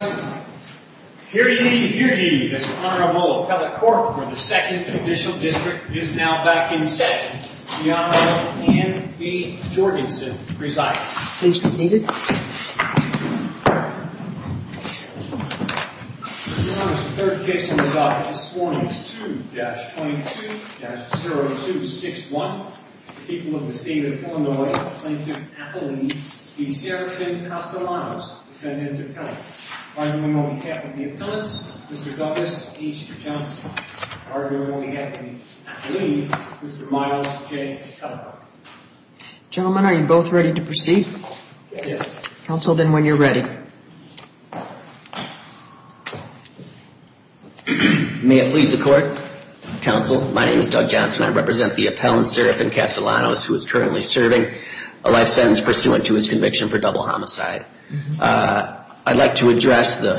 Hear ye, hear ye, Mr. Honorable Appellate Court, where the Second Judicial District is now back in session. The Honorable Anne B. Jorgensen presides. Please be seated. Your Honor, the third case on the docket this morning is 2-22-0261. The people of the State of Illinois plaintiff Appellee v. Serafin Castellanos, defendant appellant. Argument will be kept with the appellant, Mr. Douglas H. Johnson. Argument will be kept with the appellee, Mr. Miles J. Cutler. Gentlemen, are you both ready to proceed? Yes. Counsel, then, when you're ready. May it please the Court. Counsel, my name is Doug Johnson. I represent the appellant, Serafin Castellanos, who is currently serving a life sentence pursuant to his conviction for double homicide. I'd like to address the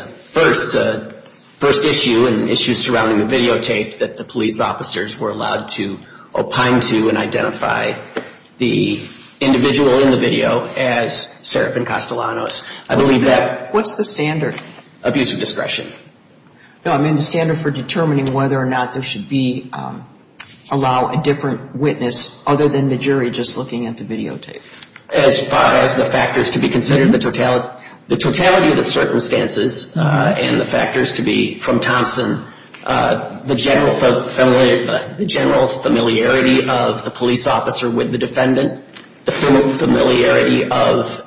first issue and issues surrounding the videotape that the police officers were allowed to opine to and identify the individual in the video as Serafin Castellanos. I believe that What's the standard? Abuse of discretion. No, I mean the standard for determining whether or not there should be, allow a different witness other than the jury just looking at the videotape. As far as the factors to be considered, the totality of the circumstances and the factors to be, from Thompson, the general familiarity of the police officer with the defendant, the familiarity of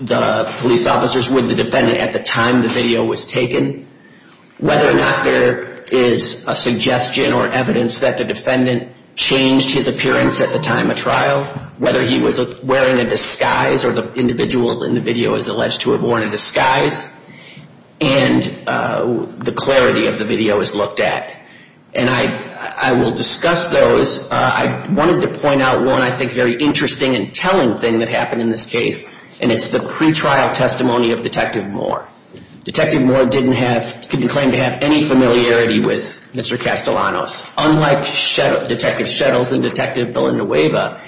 the police officers with the defendant at the time the video was taken, whether or not there is a suggestion or evidence that the defendant changed his appearance at the time of trial, whether he was wearing a disguise or the individual in the video is alleged to have worn a disguise, and the clarity of the video is looked at. And I will discuss those. I wanted to point out one, I think, very interesting and telling thing that happened in this case, and it's the pretrial testimony of Detective Moore. Detective Moore didn't have, couldn't claim to have any familiarity with Mr. Castellanos. Unlike Detective Shettles and Detective Villanueva,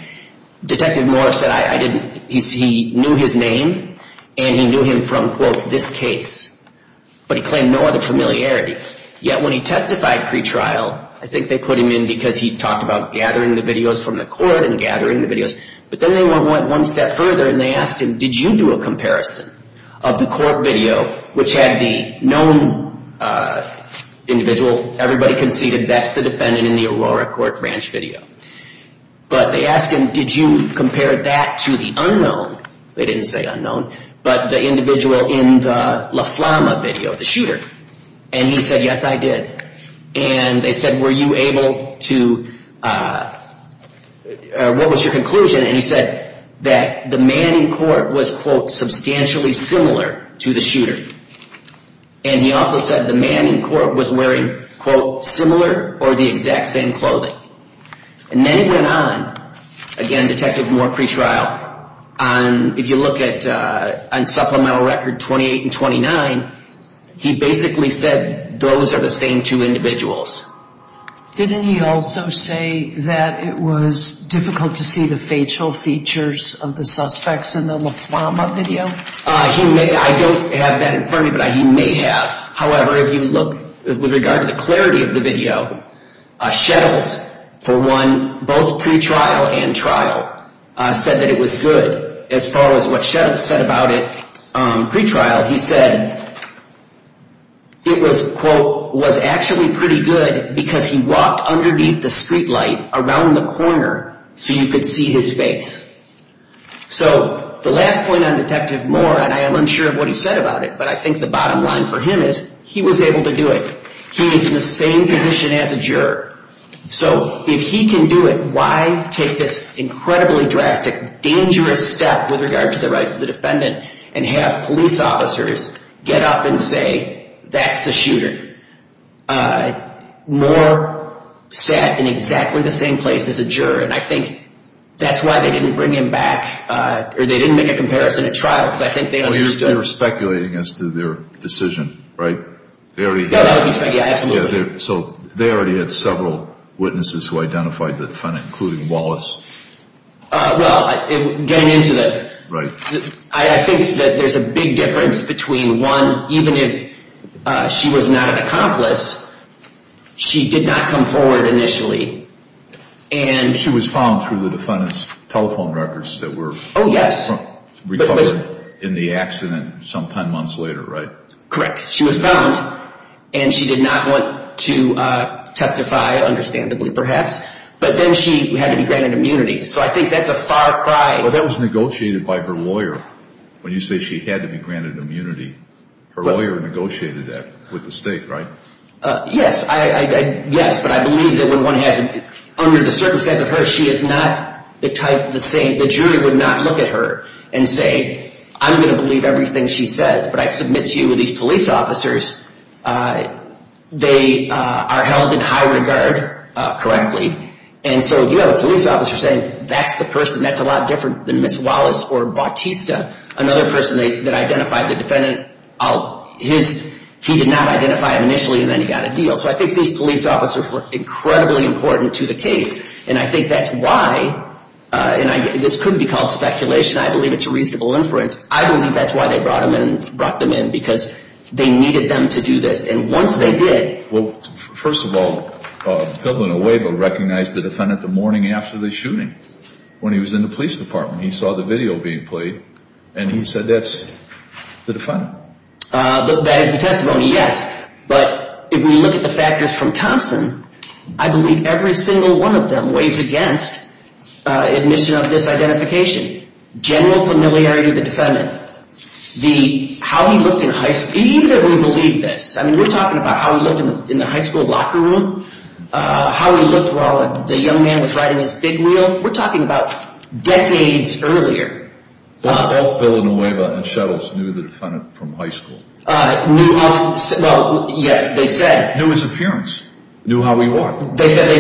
Detective Moore said, I didn't, he knew his name and he knew him from, quote, this case, but he claimed no other familiarity. Yet when he testified pretrial, I think they put him in because he talked about gathering the videos from the court and gathering the videos, but then they went one step further and they asked him, did you do a comparison of the court video, which had the known individual, everybody conceded, that's the defendant in the Aurora Court Ranch video. But they asked him, did you compare that to the unknown, they didn't say unknown, but the individual in the La Flama video, the shooter. And he said, yes, I did. And they said, were you able to, what was your conclusion? And he said that the man in court was, quote, substantially similar to the shooter. And he also said the man in court was wearing, quote, similar or the exact same clothing. And then it went on, again, Detective Moore pretrial, if you look at supplemental record 28 and 29, he basically said those are the same two individuals. Didn't he also say that it was difficult to see the facial features of the suspects in the La Flama video? He may, I don't have that in front of me, but he may have. However, if you look with regard to the clarity of the video, Shettles, for one, both pretrial and trial, said that it was good as far as what Shettles said about it pretrial. He said it was, quote, was actually pretty good because he walked underneath the streetlight around the corner so you could see his face. So the last point on Detective Moore, and I am unsure of what he said about it, but I think the bottom line for him is he was able to do it. He is in the same position as a juror. So if he can do it, why take this incredibly drastic, dangerous step with regard to the rights of the defendant and have police officers get up and say that's the shooter? Moore sat in exactly the same place as a juror, and I think that's why they didn't bring him back or they didn't make a comparison at trial because I think they understood. So you're speculating as to their decision, right? They already had several witnesses who identified the defendant, including Wallace. Well, getting into that, I think that there's a big difference between, one, even if she was not an accomplice, she did not come forward initially. She was found through the defendant's telephone records that were recovered in the accident some 10 months later, right? Correct. She was found, and she did not want to testify, understandably perhaps, but then she had to be granted immunity. So I think that's a far cry. But that was negotiated by her lawyer. When you say she had to be granted immunity, her lawyer negotiated that with the state, right? Yes. Yes, but I believe that when one has, under the circumstances of her, she is not the type, the jury would not look at her and say, I'm going to believe everything she says, but I submit to you these police officers, they are held in high regard correctly. And so if you have a police officer saying that's the person, that's a lot different than Miss Wallace or Bautista, another person that identified the defendant, he did not identify him initially, and then he got a deal. So I think these police officers were incredibly important to the case, and I think that's why, and this could be called speculation. I believe it's a reasonable inference. I believe that's why they brought them in, because they needed them to do this. And once they did. Well, first of all, Governor Huebo recognized the defendant the morning after the shooting when he was in the police department. He saw the video being played, and he said that's the defendant. That is the testimony, yes. But if we look at the factors from Thompson, I believe every single one of them weighs against admission of disidentification, general familiarity of the defendant, how he looked in high school. Even if we believe this, I mean, we're talking about how he looked in the high school locker room, how he looked while the young man was riding his big wheel. We're talking about decades earlier. Both Villanueva and Shettles knew the defendant from high school. Well, yes, they said. Knew his appearance. Knew how he walked. They said,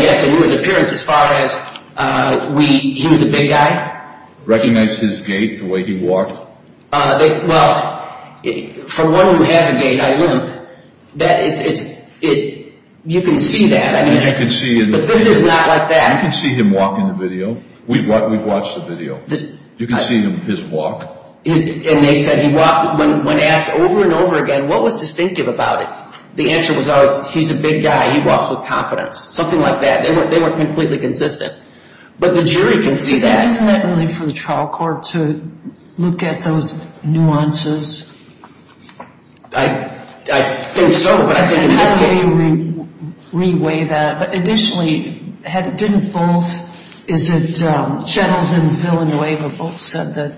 yes, they knew his appearance as far as he was a big guy. Recognized his gait, the way he walked. Well, for one who has a gait, I don't. You can see that. You can see. But this is not like that. You can see him walking the video. We've watched the video. You can see his walk. And they said when asked over and over again what was distinctive about it, the answer was always he's a big guy. He walks with confidence. Something like that. They were completely consistent. But the jury can see that. Isn't that only for the trial court to look at those nuances? I think so, but I think in this case. How do they re-weigh that? But additionally, didn't both, is it Shettles and Villanueva, both said that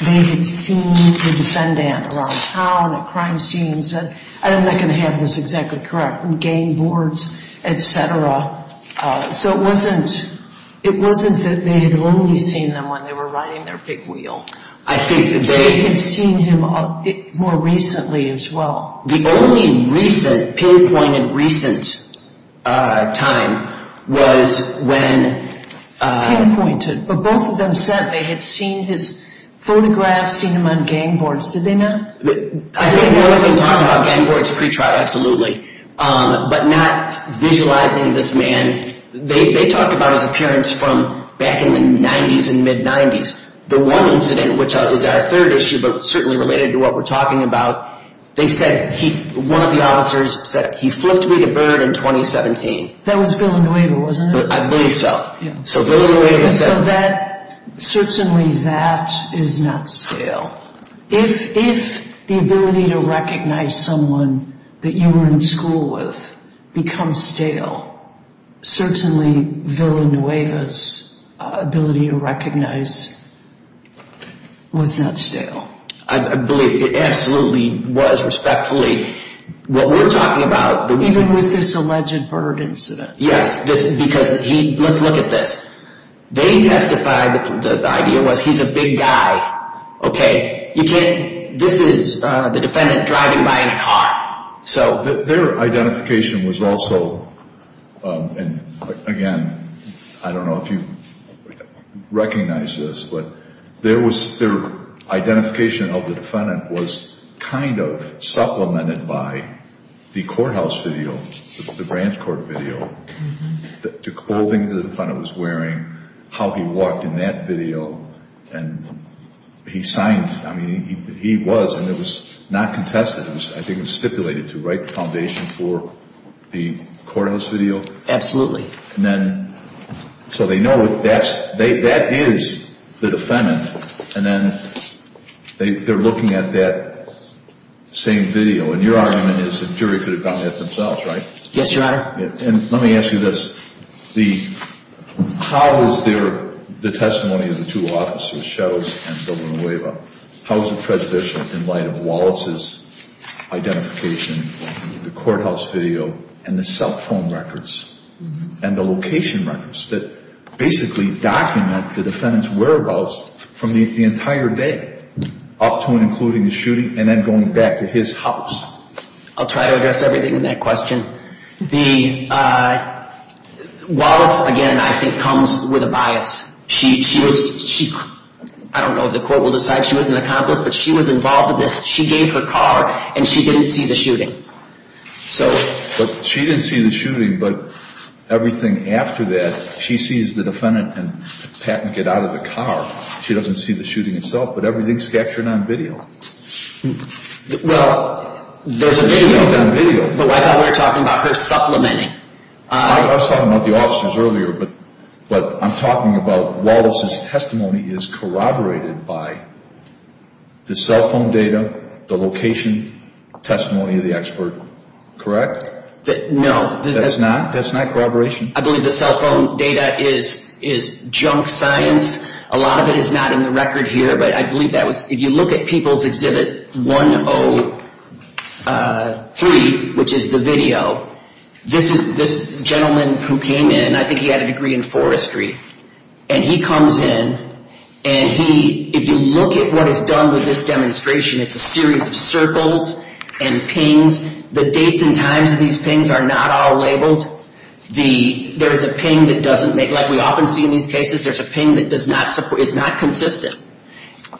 they had seen the defendant around town at crime scenes. I'm not going to have this exactly correct. And gang boards, et cetera. So it wasn't that they had only seen them when they were riding their big wheel. I think that they. They had seen him more recently as well. The only recent, pinpointed recent time was when. Pinpointed. But both of them said they had seen his photographs, seen him on gang boards. Did they not? I think they were talking about gang boards pre-trial, absolutely. But not visualizing this man. They talked about his appearance from back in the 90s and mid-90s. The one incident, which is our third issue, but certainly related to what we're talking about, they said one of the officers said, he flipped me the bird in 2017. That was Villanueva, wasn't it? I believe so. So Villanueva said. So that, certainly that is not stale. If the ability to recognize someone that you were in school with becomes stale, certainly Villanueva's ability to recognize was not stale. I believe it absolutely was, respectfully. What we're talking about. Even with this alleged bird incident. Yes. Because he, let's look at this. They testified that the idea was he's a big guy. Okay. You can't, this is the defendant driving by in a car. So. Their identification was also, and again, I don't know if you recognize this, but their identification of the defendant was kind of supplemented by the courthouse video, the branch court video, the clothing the defendant was wearing, how he walked in that video, and he signed, I mean, he was, and it was not contested. I think it was stipulated to write the foundation for the courthouse video. Absolutely. So they know that's, that is the defendant. And then they're looking at that same video. And your argument is the jury could have done that themselves, right? Yes, Your Honor. And let me ask you this. How is their, the testimony of the two officers, Shadows and Villanueva, how is it prejudicial in light of Wallace's identification, the courthouse video, and the cell phone records, and the location records that basically document the defendant's whereabouts from the entire day up to and including the shooting and then going back to his house? I'll try to address everything in that question. The, Wallace, again, I think comes with a bias. She was, I don't know if the court will decide she was an accomplice, but she was involved in this. But she didn't see the shooting, but everything after that, she sees the defendant and Patton get out of the car. She doesn't see the shooting itself, but everything's captured on video. Well, there's a video, but I thought we were talking about her supplementing. I was talking about the officers earlier, but I'm talking about Wallace's testimony is corroborated by the cell phone data, the location testimony of the expert, correct? No. That's not? That's not corroboration? I believe the cell phone data is junk science. A lot of it is not in the record here, but I believe that was, if you look at People's Exhibit 103, which is the video, this gentleman who came in, I think he had a degree in forestry, and he comes in, and he, if you look at what is done with this demonstration, it's a series of circles and pings. The dates and times of these pings are not all labeled. There is a ping that doesn't make, like we often see in these cases, there's a ping that is not consistent.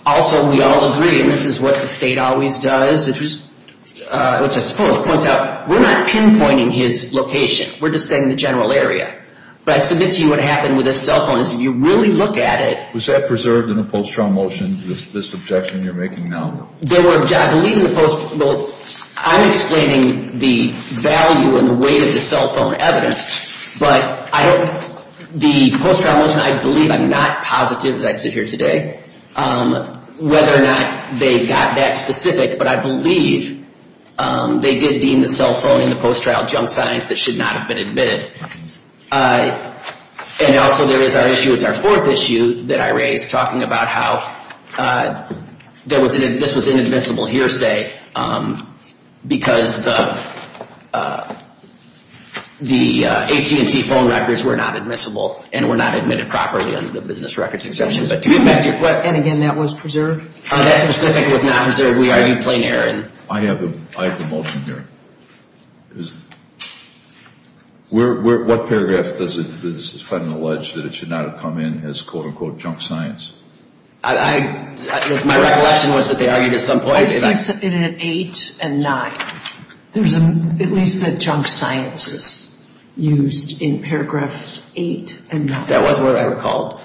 Also, we all agree, and this is what the state always does, which I suppose points out, we're not pinpointing his location. We're just saying the general area. But I submit to you what happened with this cell phone is if you really look at it. Was that preserved in the post-trial motion, this objection you're making now? There were, I believe in the post, well, I'm explaining the value and the weight of the cell phone evidence, but I don't, the post-trial motion, I believe, I'm not positive, as I sit here today, whether or not they got that specific, but I believe they did deem the cell phone in the post-trial junk signs that should not have been admitted. And also there is our issue, it's our fourth issue that I raised, talking about how this was an inadmissible hearsay because the AT&T phone records were not admissible and were not admitted properly under the business records exception. And again, that was preserved? That specific was not preserved. We argued plain error. I have the motion here. What paragraph does the defendant allege that it should not have come in as quote-unquote junk science? My recollection was that they argued at some point. I think it's in 8 and 9. At least the junk science is used in paragraphs 8 and 9. That was what I recalled.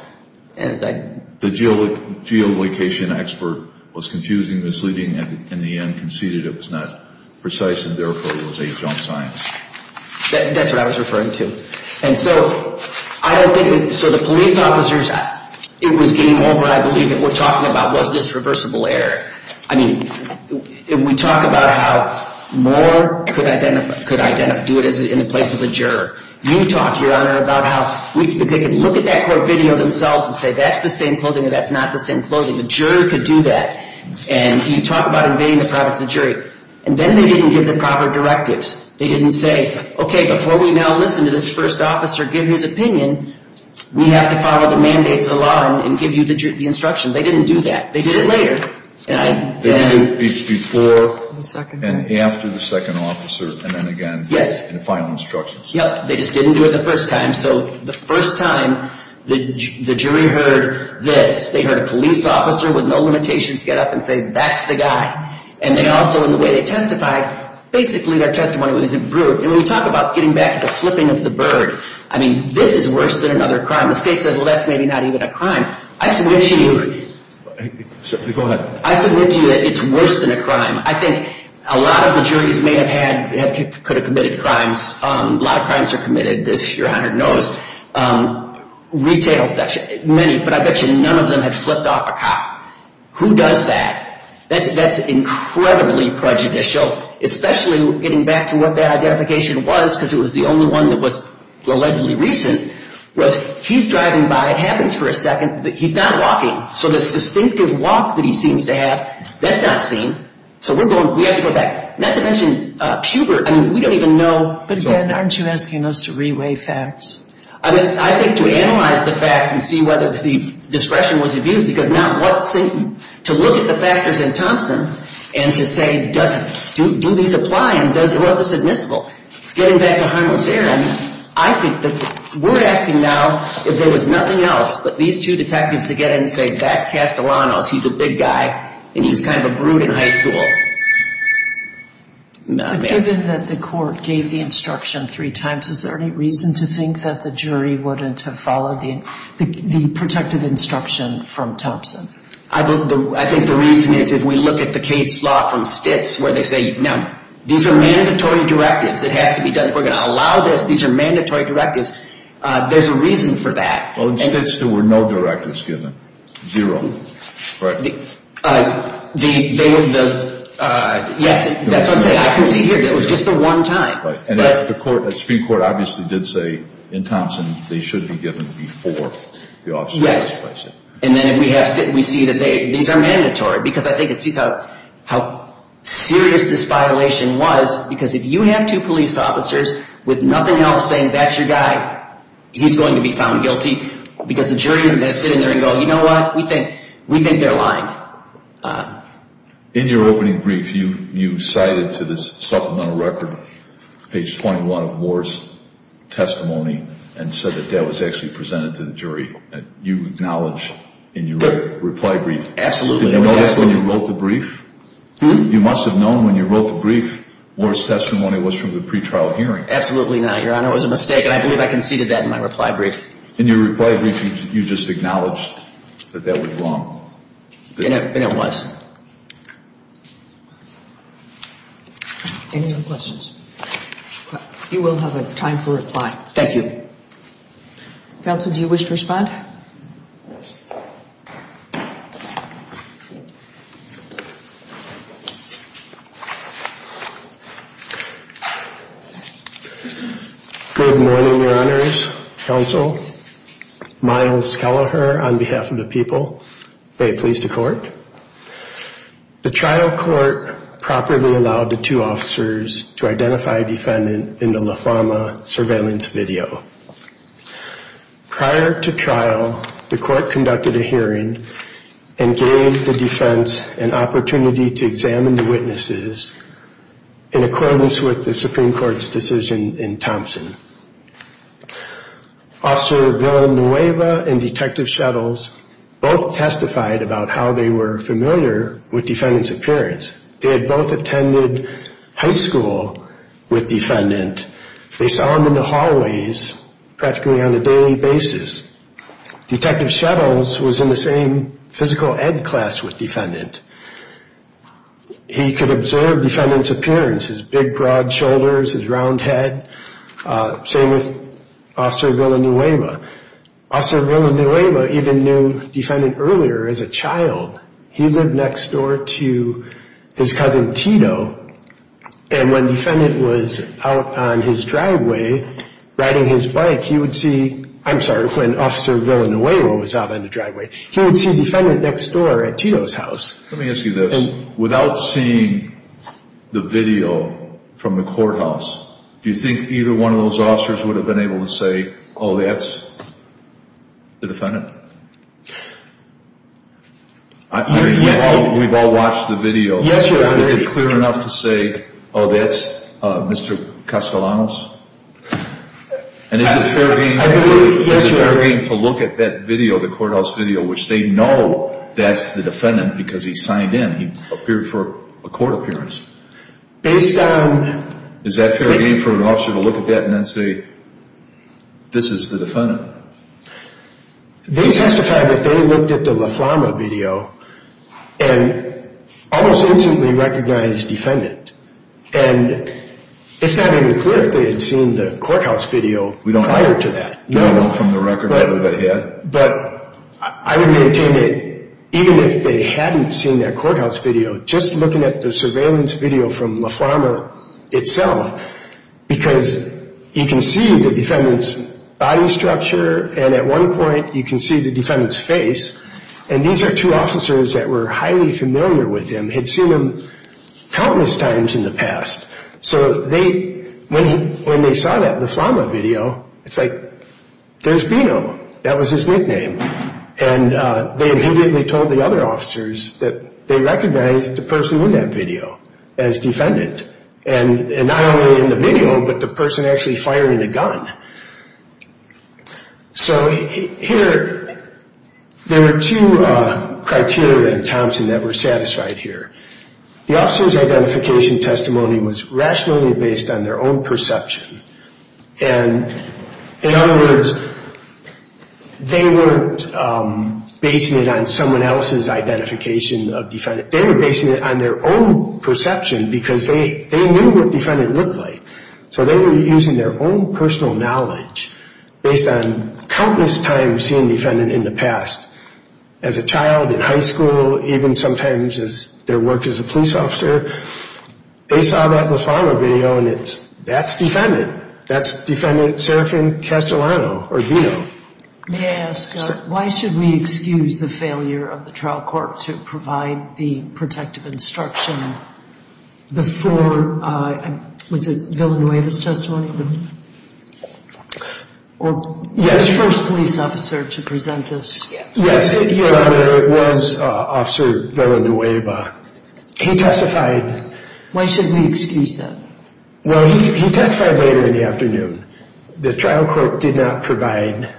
The geolocation expert was confusing, misleading, and in the end conceded it was not precise, and therefore it was a junk science. That's what I was referring to. And so I don't think, so the police officers, it was game over, I believe, that we're talking about was this reversible error. I mean, we talk about how Moore could identify, could do it in the place of a juror. You talk, Your Honor, about how they could look at that court video themselves and say that's the same clothing or that's not the same clothing. The juror could do that. And you talk about invading the privacy of the jury. And then they didn't give the proper directives. They didn't say, okay, before we now listen to this first officer, give his opinion, we have to follow the mandates of the law and give you the instruction. They didn't do that. They did it later. They did it before and after the second officer and then again in the final instructions. Yep, they just didn't do it the first time. So the first time the jury heard this, they heard a police officer with no limitations get up and say that's the guy. And then also in the way they testified, basically their testimony wasn't brutal. And when you talk about getting back to the flipping of the bird, I mean, this is worse than another crime. The state said, well, that's maybe not even a crime. I submit to you. Go ahead. I submit to you that it's worse than a crime. I think a lot of the juries may have had, could have committed crimes. A lot of crimes are committed, as your Honor knows. Retail, many, but I bet you none of them had flipped off a cop. Who does that? That's incredibly prejudicial, especially getting back to what the identification was because it was the only one that was allegedly recent, was he's driving by. It happens for a second, but he's not walking. So this distinctive walk that he seems to have, that's not seen. So we have to go back. Not to mention Pubert, I mean, we don't even know. But again, aren't you asking us to re-weigh facts? I think to analyze the facts and see whether the discretion was abused because now to look at the factors in Thompson and to say do these apply and was this admissible? Getting back to Harmless Aaron, I think that we're asking now if there was nothing else but these two detectives to get in and say that's Castellanos, he's a big guy, and he's kind of a brute in high school. Given that the court gave the instruction three times, is there any reason to think that the jury wouldn't have followed the protective instruction from Thompson? I think the reason is if we look at the case law from Stitz where they say, no, these are mandatory directives. It has to be done. We're going to allow this. These are mandatory directives. There's a reason for that. Well, in Stitz there were no directives given. Zero, right? Yes, that's what I'm saying. I can see here that it was just the one time. And the Supreme Court obviously did say in Thompson they should have been given before the officer. Yes. And then we see that these are mandatory because I think it sees how serious this violation was because if you have two police officers with nothing else saying that's your guy, he's going to be found guilty because the jury isn't going to sit in there and go, you know what, we think they're lying. In your opening brief you cited to this supplemental record page 21 of Moore's testimony and said that that was actually presented to the jury. You acknowledge in your reply brief. Absolutely. Did you know that when you wrote the brief? You must have known when you wrote the brief Moore's testimony was from the pretrial hearing. Absolutely not, Your Honor. It was a mistake, and I believe I conceded that in my reply brief. In your reply brief you just acknowledged that that was wrong. And it was. Any other questions? You will have a time for reply. Thank you. Counsel, do you wish to respond? Yes. Good morning, Your Honors, Counsel. Miles Kelleher on behalf of the people. May it please the Court. The trial court properly allowed the two officers to identify defendant in the La Fama surveillance video. Prior to trial, the court conducted a hearing and gave the defense an opportunity to examine the witnesses in accordance with the Supreme Court's decision in Thompson. Officer Villanueva and Detective Shettles both testified about how they were familiar with defendant's appearance. They had both attended high school with defendant. They saw him in the hallways practically on a daily basis. Detective Shettles was in the same physical ed class with defendant. He could observe defendant's appearance, his big, broad shoulders, his round head. Same with Officer Villanueva. Officer Villanueva even knew defendant earlier as a child. He lived next door to his cousin, Tito, and when defendant was out on his driveway riding his bike, he would see, I'm sorry, when Officer Villanueva was out on the driveway, he would see defendant next door at Tito's house. Let me ask you this. Without seeing the video from the courthouse, do you think either one of those officers would have been able to say, oh, that's the defendant? I mean, we've all watched the video. Is it clear enough to say, oh, that's Mr. Castellanos? And is it fair game to look at that video, the courthouse video, which they know that's the defendant because he's signed in. He appeared for a court appearance. Is that fair game for an officer to look at that and then say, this is the defendant? They testified that they looked at the La Farma video and almost instantly recognized defendant. And it's not even clear if they had seen the courthouse video prior to that. But I would contend that even if they hadn't seen that courthouse video, just looking at the surveillance video from La Farma itself, because you can see the defendant's body structure, and at one point you can see the defendant's face, and these are two officers that were highly familiar with him, had seen him countless times in the past. So when they saw that La Farma video, it's like, there's Bino. That was his nickname. And they immediately told the other officers that they recognized the person in that video as defendant. And not only in the video, but the person actually firing the gun. So here, there were two criteria in Thompson that were satisfied here. The officer's identification testimony was rationally based on their own perception. And in other words, they weren't basing it on someone else's identification of defendant. They were basing it on their own perception because they knew what defendant looked like. So they were using their own personal knowledge, based on countless times seeing defendant in the past, as a child, in high school, even sometimes as their work as a police officer. They saw that La Farma video, and it's, that's defendant. That's defendant Serafin Castellano, or Bino. May I ask, why should we excuse the failure of the trial court to provide the protective instruction before, was it Villanueva's testimony? Or was the first police officer to present this? Yes, it was Officer Villanueva. He testified. Why should we excuse them? Well, he testified later in the afternoon. The trial court did not provide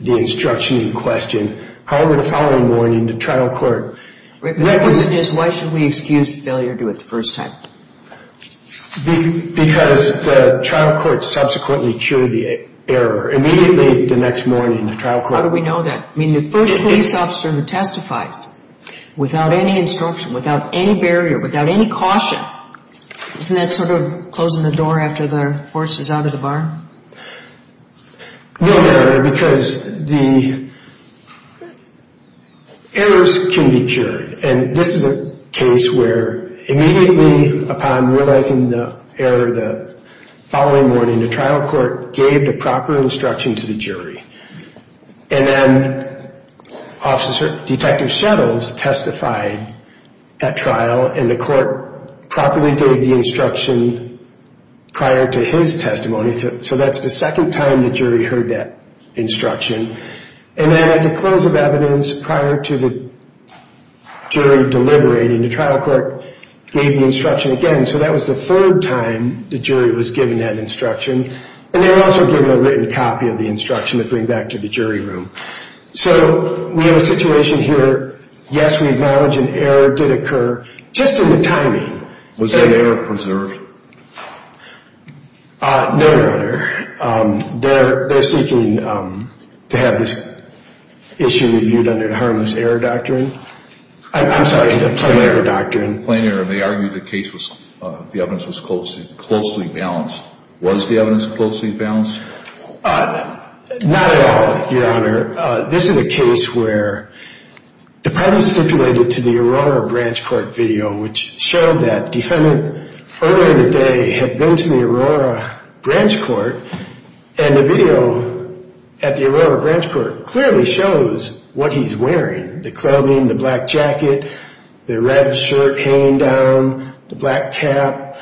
the instruction in question. However, the following morning, the trial court. The question is, why should we excuse the failure to do it the first time? Because the trial court subsequently cured the error. Immediately the next morning, the trial court. How do we know that? I mean, the first police officer who testifies without any instruction, without any barrier, without any caution, isn't that sort of closing the door after the horse is out of the barn? No, Your Honor, because the errors can be cured. And this is a case where immediately upon realizing the error the following morning, the trial court gave the proper instruction to the jury. And then Detective Shettles testified at trial, and the court properly gave the instruction prior to his testimony. So that's the second time the jury heard that instruction. And then at the close of evidence prior to the jury deliberating, the trial court gave the instruction again. So that was the third time the jury was given that instruction. And they were also given a written copy of the instruction to bring back to the jury room. So we have a situation here. Yes, we acknowledge an error did occur, just in the timing. Was that error preserved? No, Your Honor. They're seeking to have this issue reviewed under the harmless error doctrine. I'm sorry, the plain error doctrine. In plain error, they argued the evidence was closely balanced. Was the evidence closely balanced? Not at all, Your Honor. This is a case where the private stipulated to the Aurora Branch Court video, which showed that defendants earlier in the day had been to the Aurora Branch Court, and the video at the Aurora Branch Court clearly shows what he's wearing, the clothing, the black jacket, the red shirt hanging down, the black cap.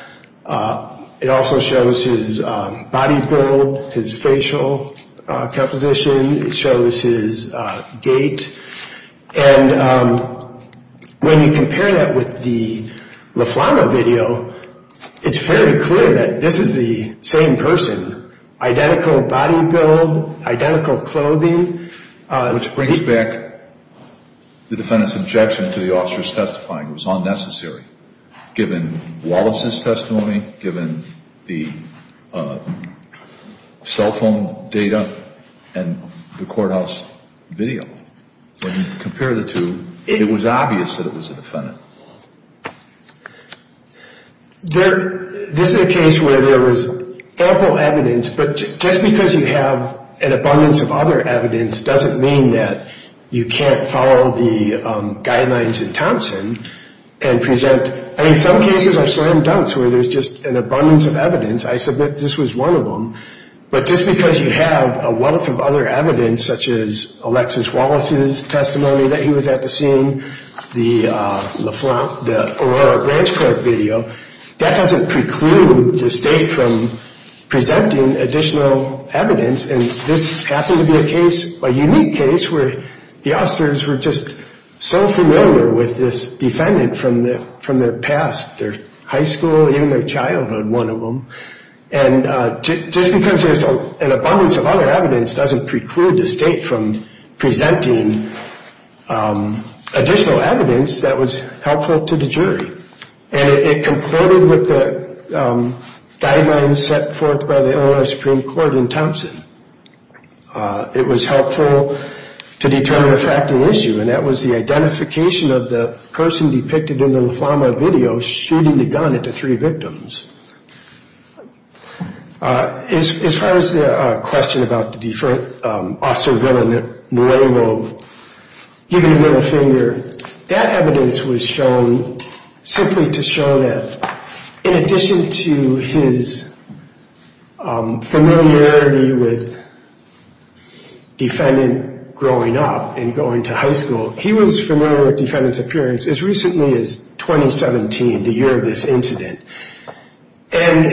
It also shows his body build, his facial composition. It shows his gait. And when you compare that with the Laflamma video, it's very clear that this is the same person, identical body build, identical clothing. Which brings back the defendant's objection to the officer's testifying. It was unnecessary, given Wallace's testimony, given the cell phone data and the courthouse video. When you compare the two, it was obvious that it was the defendant. This is a case where there was ample evidence, but just because you have an abundance of other evidence doesn't mean that you can't follow the guidelines in Thompson and present. I mean, some cases are slam dunks where there's just an abundance of evidence. I submit this was one of them. But just because you have a wealth of other evidence, such as Alexis Wallace's testimony that he was at the scene, the Aurora Branch Court video, that doesn't preclude the state from presenting additional evidence. And this happened to be a case, a unique case, where the officers were just so familiar with this defendant from their past, their high school, even their childhood, one of them. And just because there's an abundance of other evidence doesn't preclude the state from presenting additional evidence that was helpful to the jury. And it concorded with the guidelines set forth by the Illinois Supreme Court in Thompson. It was helpful to determine a factual issue, and that was the identification of the person depicted in the LaFlamma video shooting the gun at the three victims. As far as the question about the officer Willa Norello giving the middle finger, that evidence was shown simply to show that in addition to his familiarity with the defendant growing up and going to high school, he was familiar with the defendant's appearance as recently as 2017, the year of this incident. And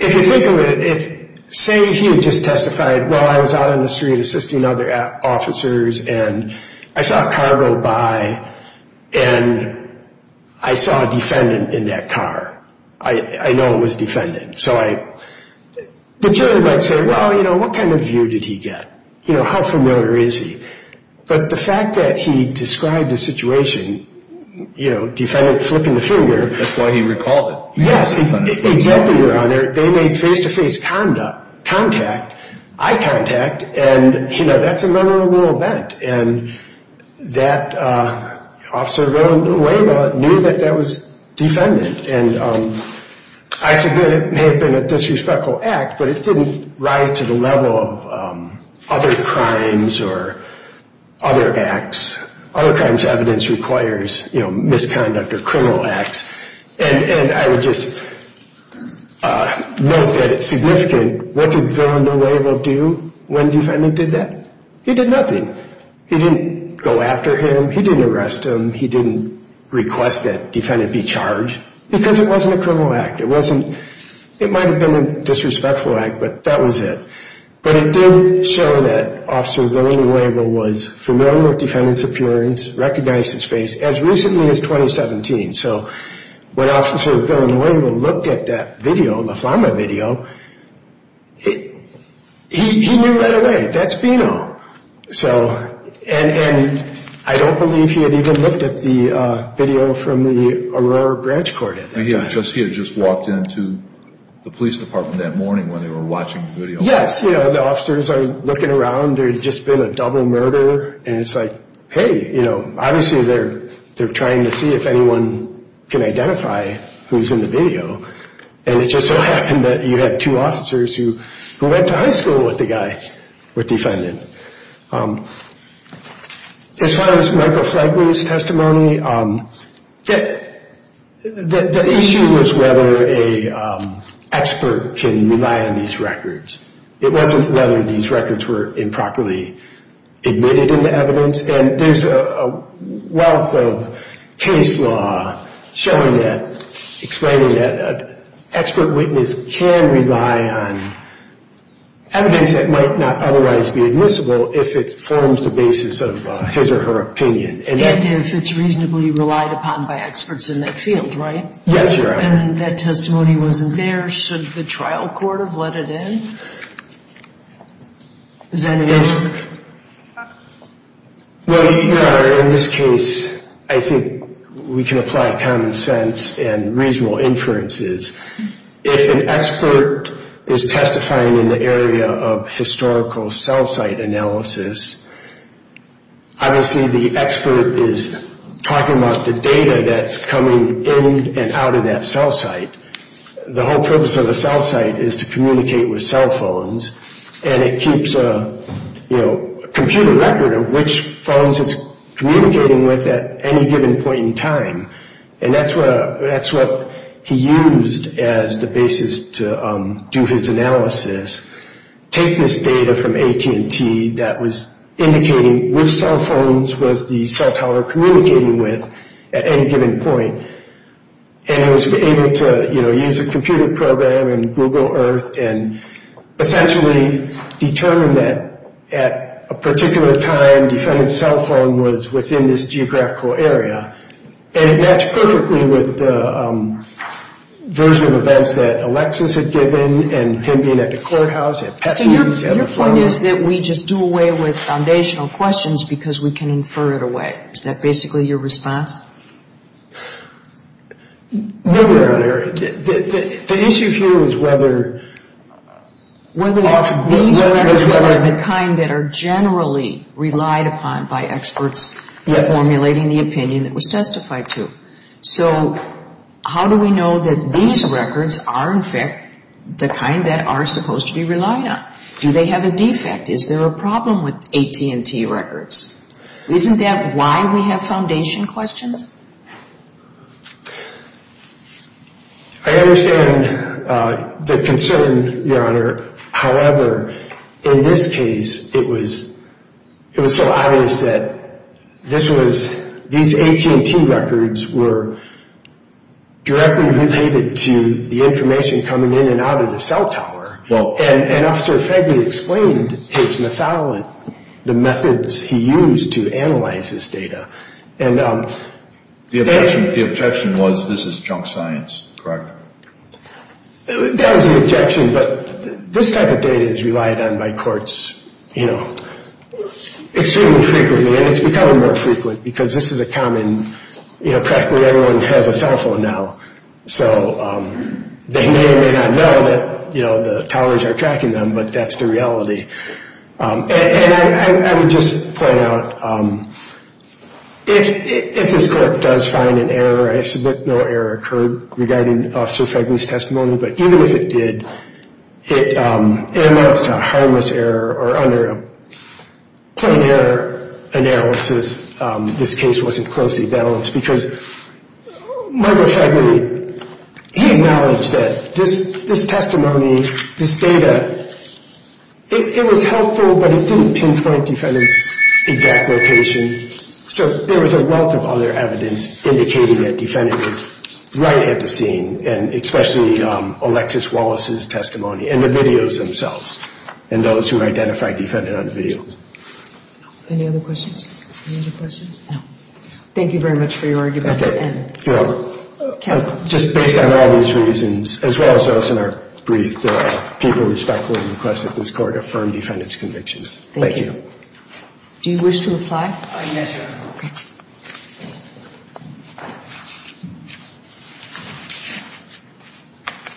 if you think of it, say he had just testified, well, I was out on the street assisting other officers, and I saw a car go by, and I saw a defendant in that car. I know it was a defendant. So the jury might say, well, you know, what kind of view did he get? You know, how familiar is he? But the fact that he described the situation, you know, defendant flipping the finger. Yes, exactly, Your Honor. They made face-to-face contact, eye contact, and, you know, that's a memorable event. And that officer, Willa Norello, knew that that was defendant. And I said that it may have been a disrespectful act, but it didn't rise to the level of other crimes or other acts. Other crimes' evidence requires, you know, misconduct or criminal acts. And I would just note that it's significant. What did Willa Norello do when defendant did that? He did nothing. He didn't go after him. He didn't arrest him. He didn't request that defendant be charged because it wasn't a criminal act. It wasn't. It might have been a disrespectful act, but that was it. But it did show that Officer Willa Norello was familiar with defendant's appearance, recognized his face, as recently as 2017. So when Officer Willa Norello looked at that video, the Flama video, he knew right away, that's Bino. And I don't believe he had even looked at the video from the Aurora Branch Court at that time. He had just walked into the police department that morning when they were watching the video. Yes. You know, the officers are looking around. There had just been a double murder, and it's like, hey, you know, obviously they're trying to see if anyone can identify who's in the video. And it just so happened that you had two officers who went to high school with the guy, with defendant. As far as Michael Flagley's testimony, the issue was whether an expert can rely on these records. It wasn't whether these records were improperly admitted into evidence. And there's a wealth of case law showing that, explaining that an expert witness can rely on evidence that might not otherwise be admissible if it forms the basis of his or her opinion. And if it's reasonably relied upon by experts in that field, right? Yes, Your Honor. And if that testimony wasn't there, should the trial court have let it in? Is that an answer? Well, Your Honor, in this case, I think we can apply common sense and reasonable inferences. If an expert is testifying in the area of historical cell site analysis, obviously the expert is talking about the data that's coming in and out of that cell site. The whole purpose of the cell site is to communicate with cell phones. And it keeps a computer record of which phones it's communicating with at any given point in time. And that's what he used as the basis to do his analysis. Take this data from AT&T that was indicating which cell phones was the cell tower communicating with at any given point. And it was able to, you know, use a computer program and Google Earth and essentially determine that at a particular time, defendant's cell phone was within this geographical area. And it matched perfectly with the version of events that Alexis had given and him being at the courthouse, at Petney's. So your point is that we just do away with foundational questions because we can infer it away. Is that basically your response? No, Your Honor. The issue here is whether... Whether these records are the kind that are generally relied upon by experts when formulating the opinion that was testified to. So how do we know that these records are, in fact, the kind that are supposed to be relied on? Do they have a defect? Is there a problem with AT&T records? Isn't that why we have foundation questions? I understand the concern, Your Honor. However, in this case, it was so obvious that this was... These AT&T records were directly related to the information coming in and out of the cell tower. And Officer Feigman explained his method, the methods he used to analyze this data. The objection was this is junk science, correct? That was the objection, but this type of data is relied on by courts, you know, extremely frequently. And it's becoming more frequent because this is a common... You know, practically everyone has a cell phone now. So they may or may not know that, you know, the towers are tracking them, but that's the reality. And I would just point out, if this court does find an error, I submit no error occurred regarding Officer Feigman's testimony, but even if it did, it amounts to a harmless error or under a plain error analysis, this case wasn't closely balanced because Michael Feigman, he acknowledged that this testimony, this data, it was helpful, but it didn't pinpoint defendant's exact location. So there was a wealth of other evidence indicating that defendant was right at the scene, and especially Alexis Wallace's testimony and the videos themselves and those who identified defendant on the videos. Any other questions? Any other questions? No. Thank you very much for your argument. Okay. Just based on all these reasons, as well as those in our brief, the people respectfully requested this Court affirm defendant's convictions. Thank you. Thank you. Do you wish to reply? Yes, Your Honor. Okay.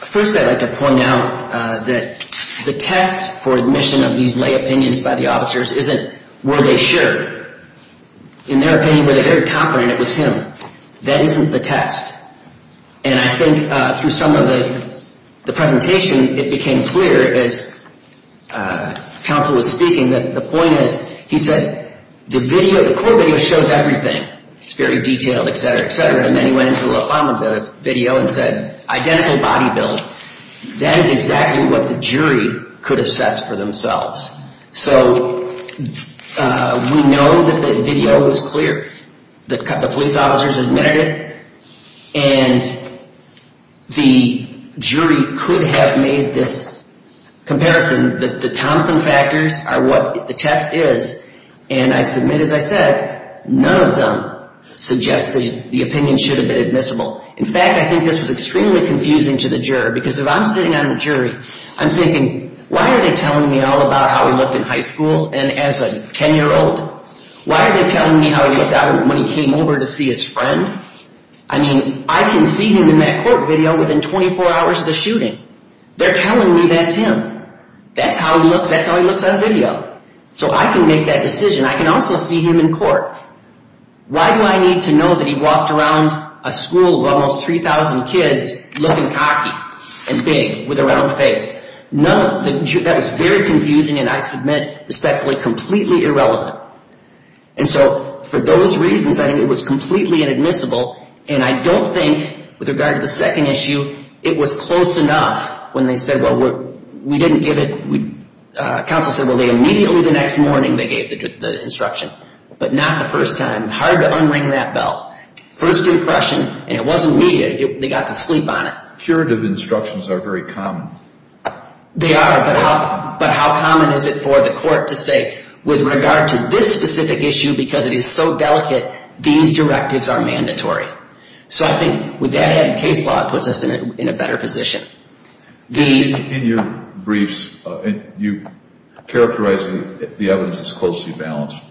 First I'd like to point out that the test for admission of these lay opinions by the officers isn't were they sure. In their opinion, were they very confident it was him? That isn't the test. And I think through some of the presentation, it became clear as counsel was speaking that the point is, he said, the video, the court video shows everything. It's very detailed, et cetera, et cetera. And then he went into the final video and said, identical body build. That is exactly what the jury could assess for themselves. So we know that the video was clear. The police officers admitted it. And the jury could have made this comparison that the Thompson factors are what the test is. And I submit, as I said, none of them suggest the opinion should have been admissible. In fact, I think this was extremely confusing to the juror because if I'm sitting on a jury, I'm thinking, why are they telling me all about how he looked in high school and as a 10-year-old? Why are they telling me how he looked when he came over to see his friend? I mean, I can see him in that court video within 24 hours of the shooting. They're telling me that's him. That's how he looks. That's how he looks on video. So I can make that decision. I can also see him in court. Why do I need to know that he walked around a school of almost 3,000 kids looking cocky and big with a round face? That was very confusing, and I submit, respectfully, completely irrelevant. And so for those reasons, I think it was completely inadmissible. And I don't think, with regard to the second issue, it was close enough when they said, well, we didn't give it. Counsel said, well, they immediately the next morning they gave the instruction, but not the first time. Hard to unring that bell. First impression, and it wasn't immediate. They got to sleep on it. Curative instructions are very common. They are, but how common is it for the court to say, with regard to this specific issue, because it is so delicate, these directives are mandatory? So I think with that added case law, it puts us in a better position. In your briefs, you characterize the evidence as closely balanced.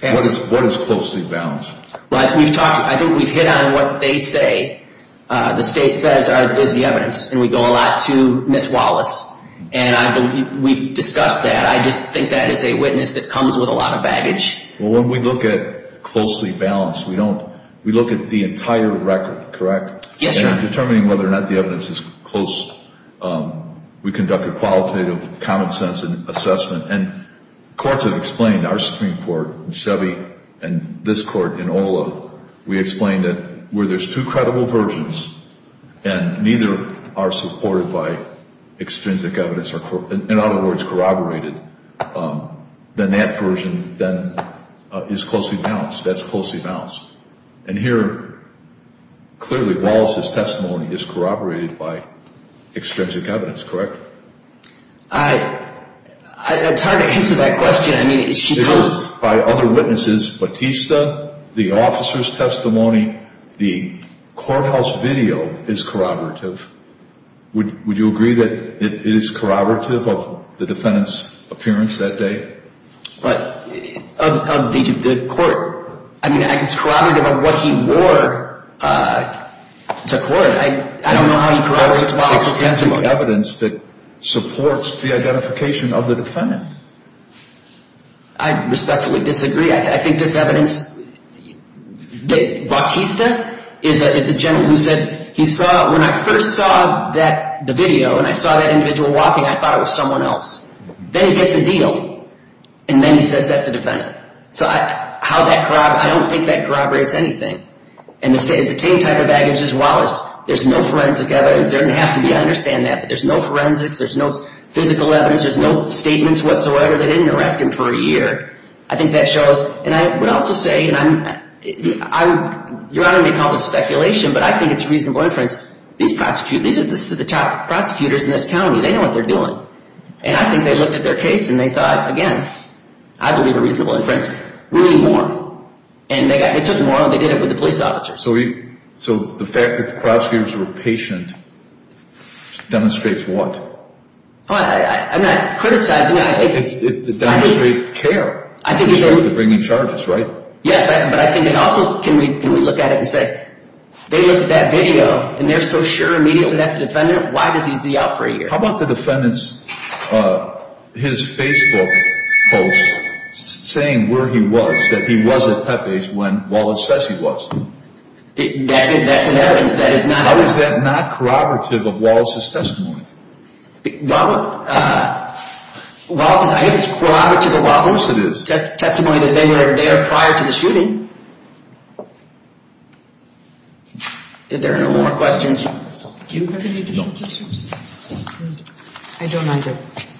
What is closely balanced? I think we've hit on what they say. The state says is the evidence, and we go a lot to Ms. Wallace, and we've discussed that. I just think that is a witness that comes with a lot of baggage. Well, when we look at closely balanced, we don't. We look at the entire record, correct? Yes, Your Honor. And in determining whether or not the evidence is close, we conduct a qualitative, common sense assessment. And courts have explained, our Supreme Court in Chevy and this court in Ola, we explain that where there's two credible versions, and neither are supported by extrinsic evidence or, in other words, corroborated, then that version is closely balanced. That's closely balanced. And here, clearly, Wallace's testimony is corroborated by extrinsic evidence, correct? It's hard to answer that question. By other witnesses, Batista, the officer's testimony, the courthouse video is corroborative. Would you agree that it is corroborative of the defendant's appearance that day? Of the court? I mean, it's corroborative of what he wore to court. I don't know how he corroborates Wallace's testimony. There's no evidence that supports the identification of the defendant. I respectfully disagree. I think this evidence, Batista is a gentleman who said he saw, when I first saw the video and I saw that individual walking, I thought it was someone else. Then he gets a deal, and then he says that's the defendant. So how that corroborates, I don't think that corroborates anything. And the same type of baggage as Wallace, there's no forensic evidence. There doesn't have to be. I understand that. But there's no forensics. There's no physical evidence. There's no statements whatsoever. They didn't arrest him for a year. I think that shows. And I would also say, and Your Honor may call this speculation, but I think it's reasonable inference. These are the top prosecutors in this county. They know what they're doing. And I think they looked at their case, and they thought, again, I believe a reasonable inference. We need more. And they took more, and they did it with the police officers. So the fact that the prosecutors were patient demonstrates what? I'm not criticizing. It demonstrates care. They're bringing charges, right? Yes, but I think it also, can we look at it and say, they looked at that video, and they're so sure immediately that's the defendant, why does he see out for a year? How about the defendant's, his Facebook post saying where he was, that he was at Pepe's when Wallace Fessy was? That's an evidence that is not. How is that not corroborative of Wallace's testimony? Wallace's, I guess it's corroborative of Wallace's testimony that they were there prior to the shooting. If there are no more questions, do you have anything to say? No. I don't either.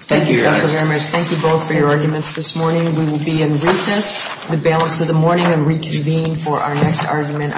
Thank you, Your Honor. Thank you both for your arguments this morning. We will be in recess the balance of the morning and reconvene for our next argument.